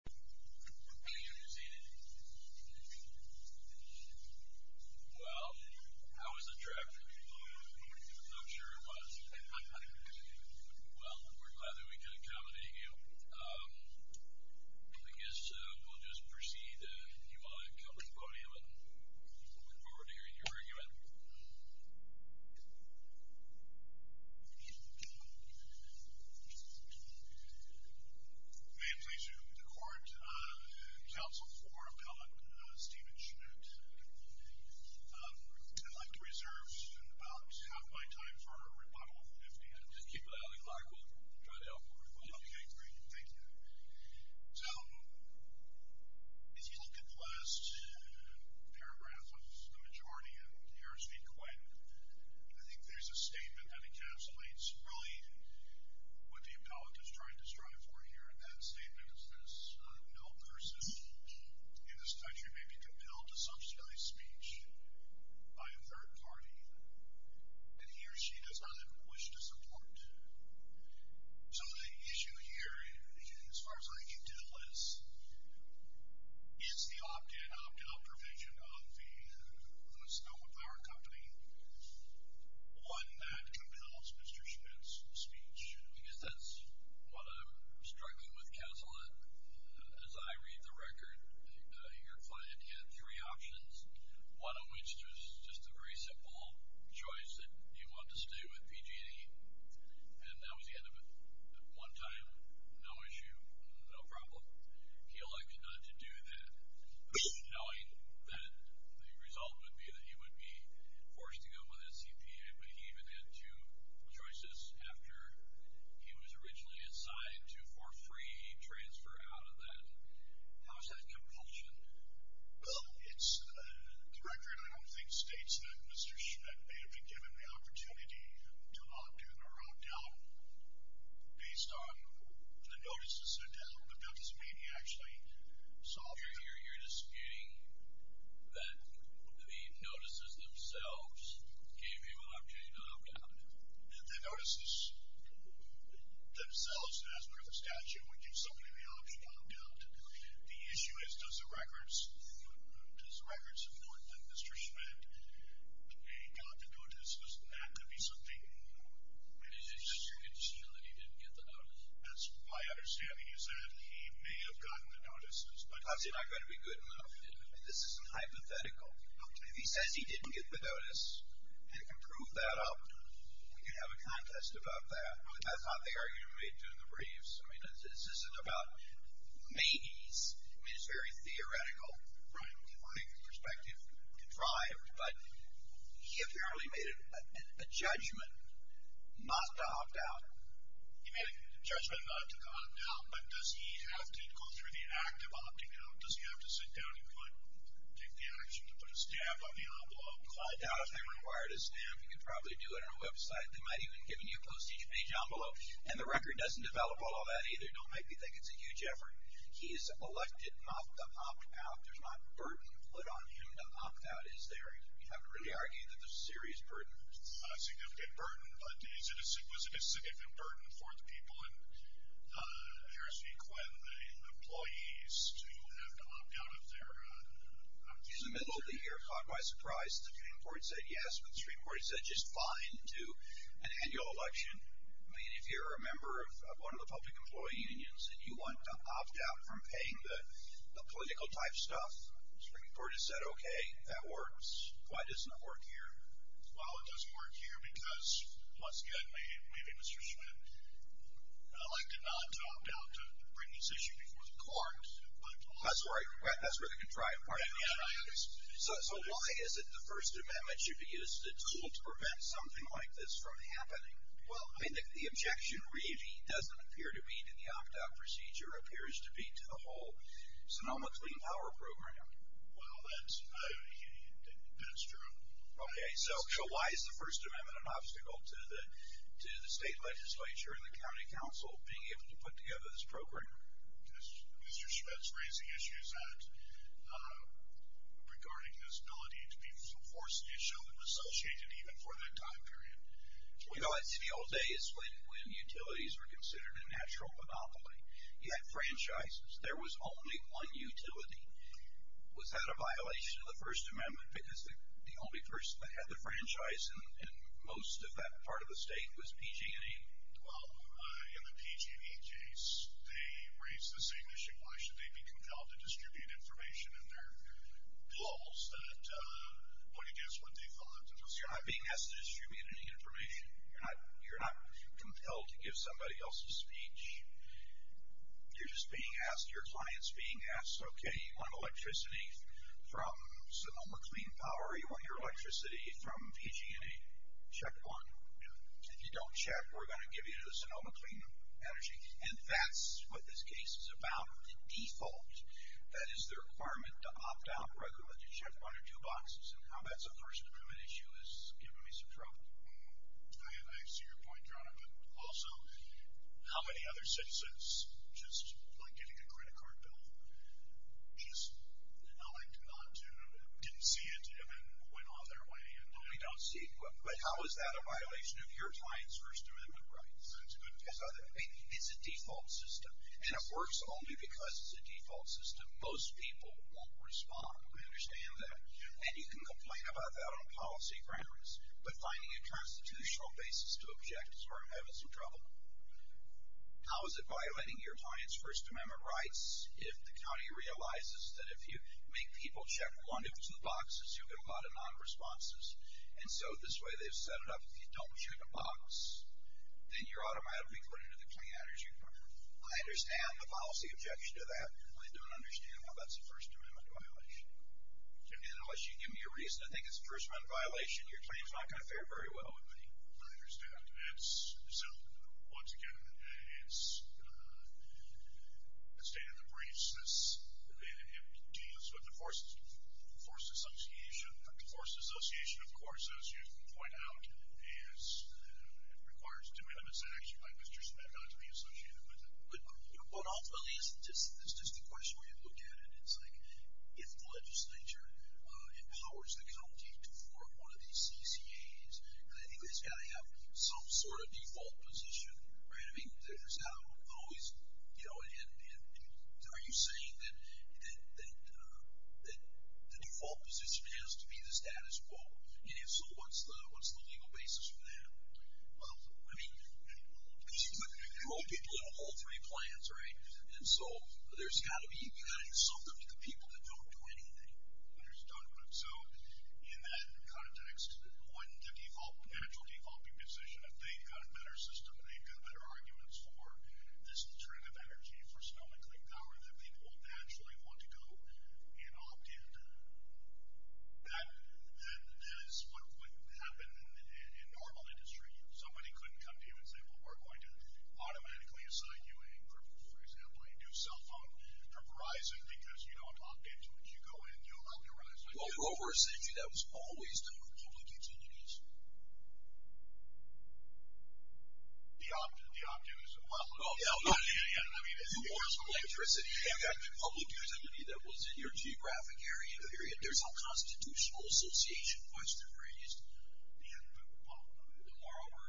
Well, how was the trip? I'm not sure it was. Well, we're glad that we could accommodate you. I guess we'll just proceed, and you all can come to the podium, and we look forward to hearing your argument. May it please you, the Court? Counsel for Appellant Steven Schmid. I'd like to reserve about half my time for a rebuttal, if need be. Just keep it up, and we'll try to help you. Okay, great. Thank you. So, if you look at the last paragraph of the majority in Harris v. Quinn, I think there's a statement that encapsulates really what the appellant is trying to strive for here. That statement is this. No person in this country may be compelled to subsidize speech by a third party that he or she does not even wish to support. So the issue here, as far as I can tell, is, is the opt-in, opt-out provision of the Sonoma Power Company one that compels Mr. Schmid's speech? I guess that's what I'm struggling with, Counselor. As I read the record, your client had three options, one of which was just a very simple choice that he wanted to stay with PG&E, and that was the end of it. At one time, no issue, no problem. He elected not to do that, knowing that the result would be that he would be forced to go with a CPA, but he even had two choices after he was originally assigned to for free transfer out of that. How is that compulsion? Well, the record, I don't think, states that Mr. Schmid may have been given the opportunity to opt-in or opt-out based on the notices that he actually saw. You're disputing that the notices themselves gave him an opportunity to opt-out? The notices themselves, as per the statute, would give somebody the option to opt-out. The issue is, does the records, does the records support that Mr. Schmid may have gotten the notices, and that could be something new. It's just your condition that he didn't get the notices. That's my understanding is that he may have gotten the notices, but I mean, this isn't hypothetical. If he says he didn't get the notice and can prove that up, we can have a contest about that. I thought they argued and made two of the briefs. I mean, this isn't about maybes. I mean, it's very theoretical. Right. My perspective contrived, but he apparently made a judgment not to opt-out. He made a judgment not to opt-out, but does he have to go through the act of opting-out? Does he have to sit down and go ahead and take the action to put a stamp on the envelope? I doubt if they required a stamp. You could probably do it on a website. They might even give you a postage page envelope, and the record doesn't develop all that either. Don't make me think it's a huge effort. He is elected not to opt-out. There's not burden put on him to opt-out, is there? You have to really argue that there's serious burden. Not a significant burden, but was it a significant burden for the people in Harris v. Quinn, the employees, to have to opt-out of their... In the middle of the year, caught by surprise, the Supreme Court said yes, but the Supreme Court said just fine to an annual election. I mean, if you're a member of one of the public employee unions and you want to opt-out from paying the political-type stuff, the Supreme Court has said, okay, that works. Why doesn't it work here? Well, it doesn't work here because, once again, maybe Mr. Schmidt elected not to opt-out to bring this issue before the court. That's where the contrived part is. So why is it the First Amendment should be used as a tool to prevent something like this from happening? Well, I mean, the objection really doesn't appear to be to the opt-out procedure. It appears to be to the whole Sonoma Clean Power Program. Well, that's true. Okay, so why is the First Amendment an obstacle to the state legislature and the county council being able to put together this program? Mr. Schmidt's raising issues regarding this ability to be forced to show them associated even for that time period. You know, it's the old days when utilities were considered a natural monopoly. You had franchises. There was only one utility. Was that a violation of the First Amendment because the only person that had the franchise in most of that part of the state was PG&E? Well, in the PG&E case, they raised the same issue. Why should they be compelled to distribute information in their lulls? What do you guess what they thought? You're not being asked to distribute any information. You're not compelled to give somebody else a speech. You're just being asked, your client's being asked, okay, you want electricity from Sonoma Clean Power, you want your electricity from PG&E. Check one. If you don't check, we're going to give you the Sonoma Clean Energy. And that's what this case is about, the default. That is the requirement to opt out, or I can let you check one or two boxes, and how that's a First Amendment issue is giving me some trouble. I see your point, Jonathan. Also, how many other citizens, just like getting a credit card bill, just, like, did not, didn't see it and then went off their way? We don't see it. But how is that a violation of your client's First Amendment rights? It's a default system. And it works only because it's a default system. Most people won't respond. I understand that. And you can complain about that on policy grounds. But finding a constitutional basis to object is where I'm having some trouble. How is it violating your client's First Amendment rights if the county realizes that if you make people check one or two boxes, you'll get a lot of non-responses? And so this way they've set it up, if you don't check a box, then you're automatically put into the Clean Energy Department. I understand the policy objection to that. I don't understand why that's a First Amendment violation. And unless you give me a reason to think it's a First Amendment violation, your claim's not going to fare very well with me. I understand. And so, once again, it's stated in the briefs that it deals with the Forest Association. The Forest Association, of course, as you point out, is, it requires two amendments, actually, by Mr. Smetana to be associated with it. But ultimately, it's just a question where you look at it. It's like, if the legislature empowers the county to form one of these CCAs, then it's got to have some sort of default position, right? I mean, there's always, you know, and are you saying that the default position has to be the status quo? And if so, what's the legal basis for that? Well, I mean, you control people in all three plans, right? And so, there's got to be something to the people that don't do anything. Understood. So, in that context, wouldn't the default, natural default be position if they've got a better system, they've got better arguments for this alternative energy for snow and clean power that people would naturally want to go and opt in? That is what would happen in normal industry. Somebody couldn't come to you and say, well, we're going to automatically assign you a, for example, a new cell phone for Verizon because you don't opt into it. You go in, you allow Verizon. Well, the Forest Association, that was always done with public utilities. The opt-in is a public utility. Well, yeah. I mean, it's the forest electricity. You've got the public utility that was in your geographic area. There's a constitutional association question raised. Well, moreover,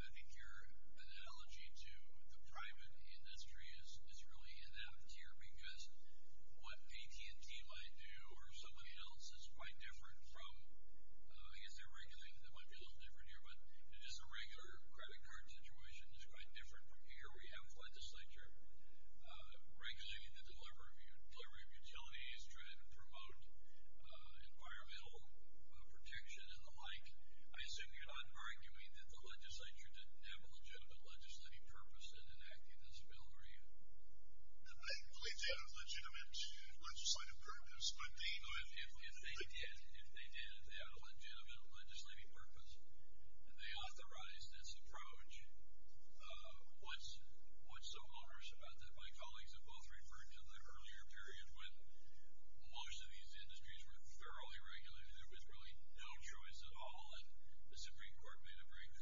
I think your analogy to the private industry is really inept here because what AT&T might do or somebody else is quite different from, I guess they're regulating, that might be a little different here, but it is a regular credit card situation. It's quite different from here where you have a legislature regulating the delivery of utilities, trying to promote environmental protection and the like. I assume you're not arguing that the legislature didn't have a legitimate legislative purpose in enacting this bill, are you? I believe they had a legitimate legislative purpose. If they did, if they had a legitimate legislative purpose and they authorized this approach, what's so onerous about that?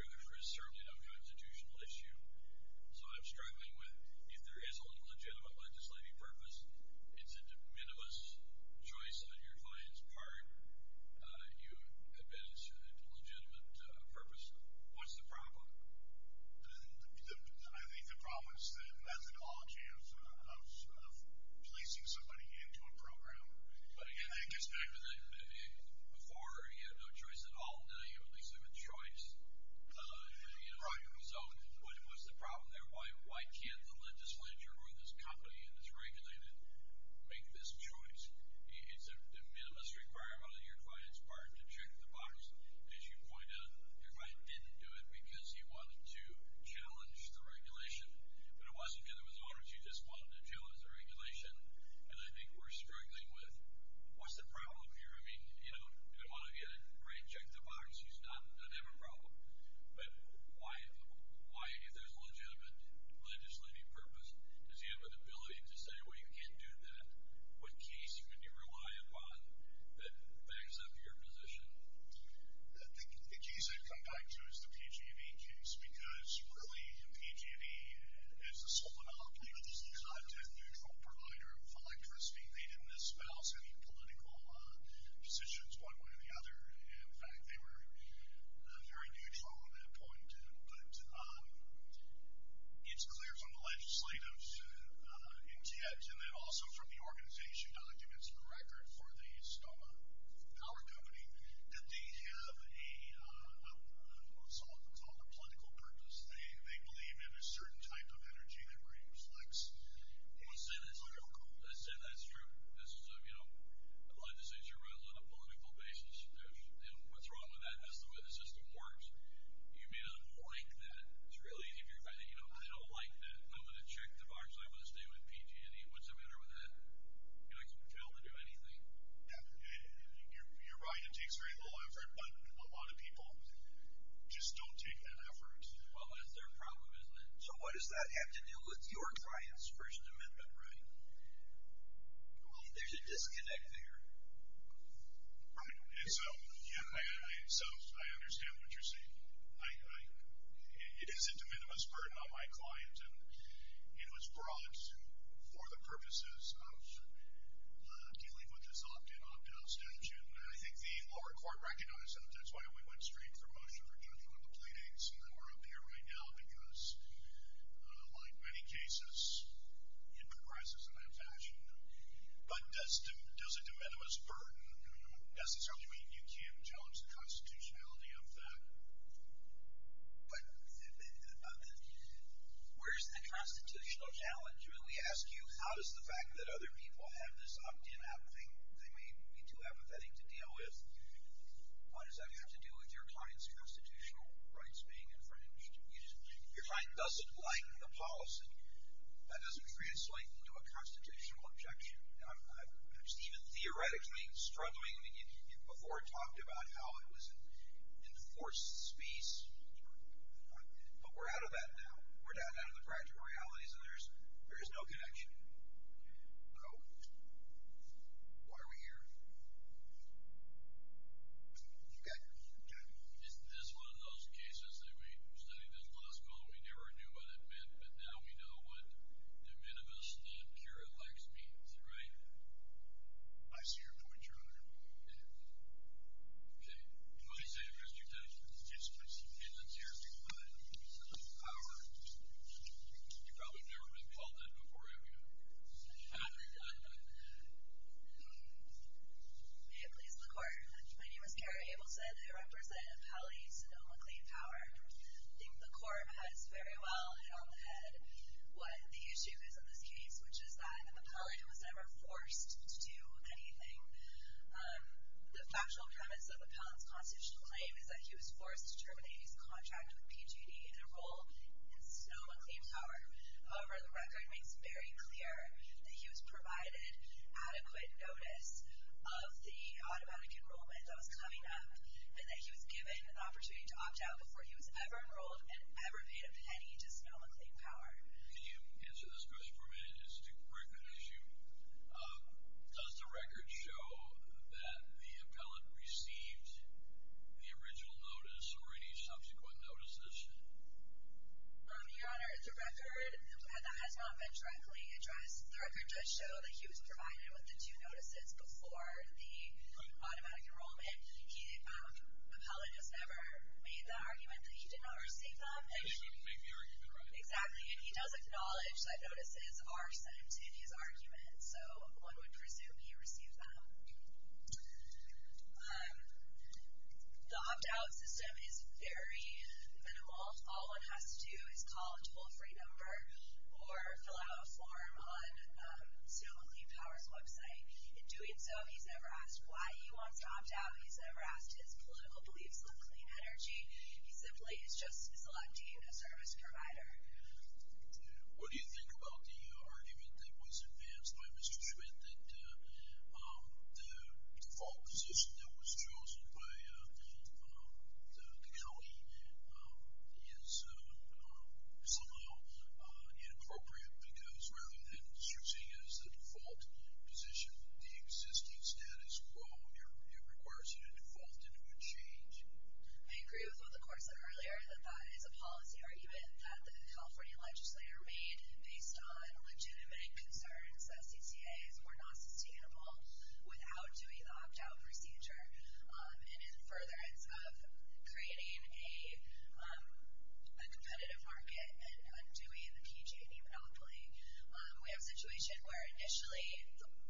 There is certainly no constitutional issue. So I'm struggling with if there is a legitimate legislative purpose, it's a minimalist choice on your client's part. You have been legitimate purpose. What's the problem? I think the problem is the methodology of placing somebody into a program. Before, you had no choice at all. Now you at least have a choice. So what's the problem there? Why can't the legislature or this company that's regulated make this choice? It's a minimalist requirement on your client's part to check the box. As you point out, your client didn't do it because he wanted to challenge the regulation. But it wasn't because it was onerous. He just wanted to challenge the regulation. And I think we're struggling with what's the problem here? I mean, if you want to get it right, check the box. You don't have a problem. But why, if there's a legitimate legislative purpose, does he have the ability to say, well, you can't do that? What case can you rely upon that backs up your position? I think the case I'd come back to is the PG&E case. Because really, PG&E is the sole monopoly. It's a content-neutral provider of electricity. They didn't espouse any political positions one way or the other. In fact, they were very neutral on that point. But it's clear from the legislative intent, and then also from the organization documents and record for the Stoma Power Company, that they have a, what's often called a political purpose. They believe in a certain type of energy that reflects the political goal. I said that's true. Legislature runs on a political basis. What's wrong with that? That's the way the system works. You may not like that. It's really, if you're going to, I don't like that. I'm going to check the box. I'm going to stay with PG&E. What's the matter with that? You're not compelled to do anything. Your client takes very little effort, but a lot of people just don't take that effort. Well, that's their problem, isn't it? So what does that have to do with your client's First Amendment right? There's a disconnect there. Right. And so, I understand what you're saying. It is a de minimis burden on my client, and it was brought for the purposes of dealing with this opt-in, opt-out statute. And I think the lower court recognized that. That's why we went straight for motion for judgment on the pleadings, and then we're up here right now because, like many cases, it comprises in that fashion. But does a de minimis burden necessarily mean you can't challenge the constitutionality of that? But where's the constitutional challenge? I mean, we ask you, how does the fact that other people have this opt-in, opt-out thing, they may be too apathetic to deal with. What does that have to do with your client's constitutional rights being infringed? Your client doesn't like the policy. That doesn't translate into a constitutional objection. I'm just even theoretically struggling, and you before talked about how it was an enforced speech. But we're out of that now. We're down to the practical realities, and there's no connection. So, why are we here? Okay. Is this one of those cases that we studied in law school and we never knew what it meant, but now we know what de minimis means, right? I see your point, Your Honor. Okay. Can I say a question, Ted? Yes, please. Okay, let's hear it. You've probably never been called that before, have you? Hi, please, the Court. My name is Kara Abelson. I represent Appellate Sonoma Claim Power. I think the Court has very well hit on the head what the issue is in this case, which is that an appellate was never forced to do anything. The factual premise of an appellate's constitutional claim is that he was forced to terminate his contract with PGD and enroll in Sonoma Claim Power. However, the record makes very clear that he was provided adequate notice of the automatic enrollment that was coming up and that he was given an opportunity to opt out before he was ever enrolled and ever paid a penny to Sonoma Claim Power. Can you answer this question for me? It's a very good issue. Does the record show that the appellate received the original notice or any subsequent notices? Your Honor, the record that has not been directly addressed, the record does show that he was provided with the two notices before the automatic enrollment. The appellate just never made the argument that he did not receive them. He did not make the argument, right? Exactly, and he does acknowledge that notices are sent in his argument, so one would presume he received them. The opt-out system is very minimal. All one has to do is call a toll-free number or fill out a form on Sonoma Claim Power's website. In doing so, he's never asked why he wants to opt out. He's never asked his political beliefs on clean energy. He simply is just selecting a service provider. What do you think about the argument that was advanced by Mr. Schmidt that the default position that was chosen by the county is somehow inappropriate because rather than searching as the default position, the existing status quo, it requires you to default and it would change? I agree with what the court said earlier that that is a policy argument that the California legislature made based on legitimate concerns that CCAs were not sustainable without doing the opt-out procedure, and in furtherance of creating a competitive market and undoing the PG&E monopoly. We have a situation where initially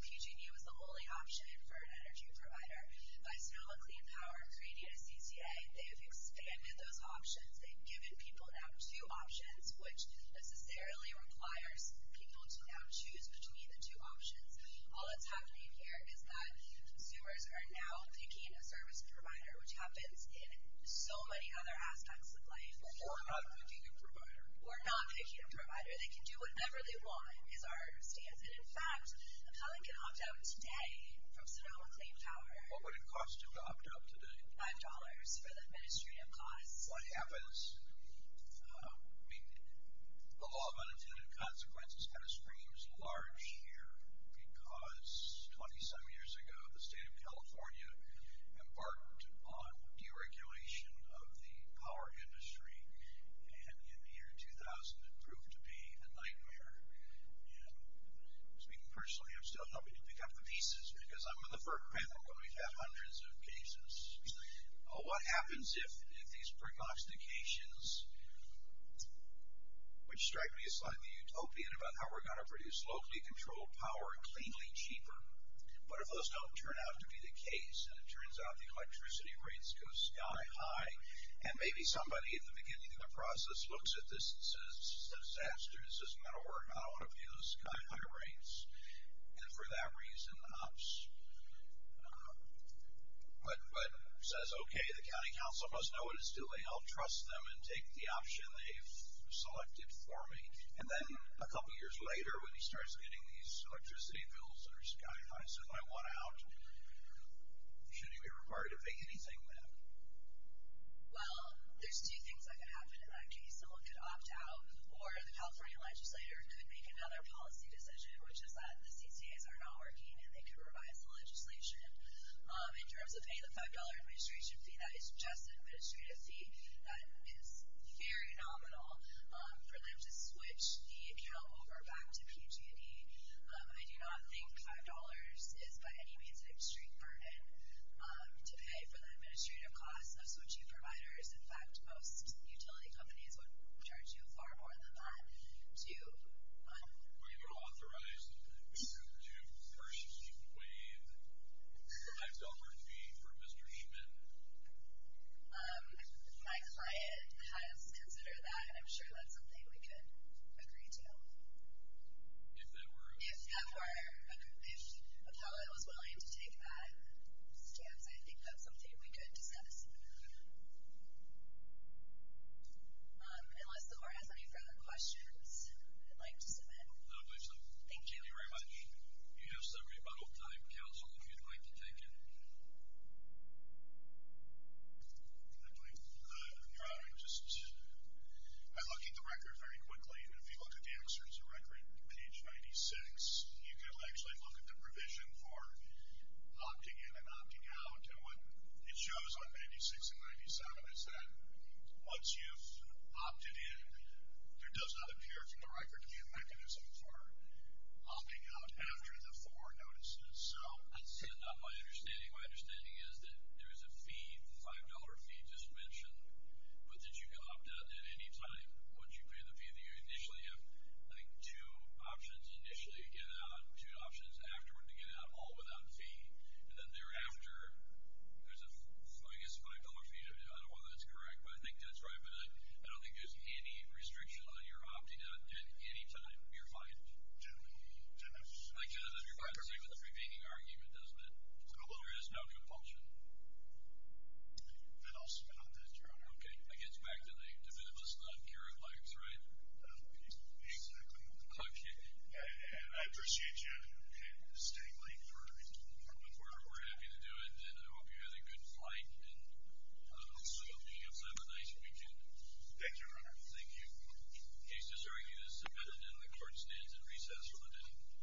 PG&E was the only option for an energy provider. By Sonoma Claim Power creating a CCA, they have expanded those options. They've given people now two options, which necessarily requires people to now choose between the two options. All that's happening here is that consumers are now picking a service provider, which happens in so many other aspects of life. So we're not picking a provider? We're not picking a provider. They can do whatever they want is our stance, and in fact, a client can opt out today from Sonoma Claim Power. What would it cost him to opt out today? $5 for the administrative costs. What happens? I mean, the law of unintended consequences kind of screams large here because 20-some years ago the state of California embarked on deregulation of the power industry, and in the year 2000, it proved to be a nightmare. And speaking personally, I'm still hoping to pick up the pieces because I'm in the first panel where we've had hundreds of cases. What happens if these pre-constitutions, which strike me as slightly utopian about how we're going to produce locally controlled power cleanly cheaper, but if those don't turn out to be the case and it turns out the electricity rates go sky high, and maybe somebody at the beginning of the process looks at this and says, this is a disaster, this is not going to work, I don't want to pay those sky high rates, and for that reason opts, but says, okay, the county council must know what to do, they'll trust them and take the option they've selected for me. And then a couple years later, when he starts getting these electricity bills that are sky high, so if I want out, should he be required to pay anything then? Well, there's two things that could happen in that case. Someone could opt out, or the California legislator could make another policy decision, which is that the CCAs are not working and they could revise the legislation. In terms of paying the $5 administration fee, that is just an administrative fee, that is very nominal for them to switch the account over back to PG&E. I do not think $5 is by any means an extreme burden to pay for the administrative costs of switching providers. In fact, most utility companies would charge you far more than that to do that. Are you authorized to purchase and waive the $5 fee for Mr. Eman? My client has considered that, and I'm sure that's something we could agree to. If that were? If that were. If Appellate was willing to take that stance, I think that's something we could discuss. Unless the board has any further questions, I'd like to submit. No, please do. Thank you. Thank you very much. You have some rebuttal time, counsel, if you'd like to take it. I'm doing good. I'm just looking at the record very quickly. If you look at the answer to record, page 96, you can actually look at the provision for opting in and opting out. And what it shows on page 96 and 97 is that once you've opted in, there does not appear from the record to be a mechanism for opting out after the four notices. That's not my understanding. My understanding is that there is a fee, $5 fee, just mentioned, but that you can opt out at any time once you pay the fee. You initially have, I think, two options. Initially you get out, two options afterward to get out, all without fee. And then thereafter, there's a, I guess, $5 fee. I don't know whether that's correct, but I think that's right. But I don't think there's any restriction on your opting out at any time. You're fine. I can't understand the prevailing argument, doesn't it? There is no compulsion. Then I'll submit on that, Your Honor. Okay. It gets back to the definitive list of uncared likes, right? Exactly. Okay. And I appreciate you staying late for the court. We're happy to do it, and I hope you had a good flight, and I hope you have a nice weekend. Thank you, Your Honor. Thank you. Case is argued as submitted, and the court stands at recess for the day.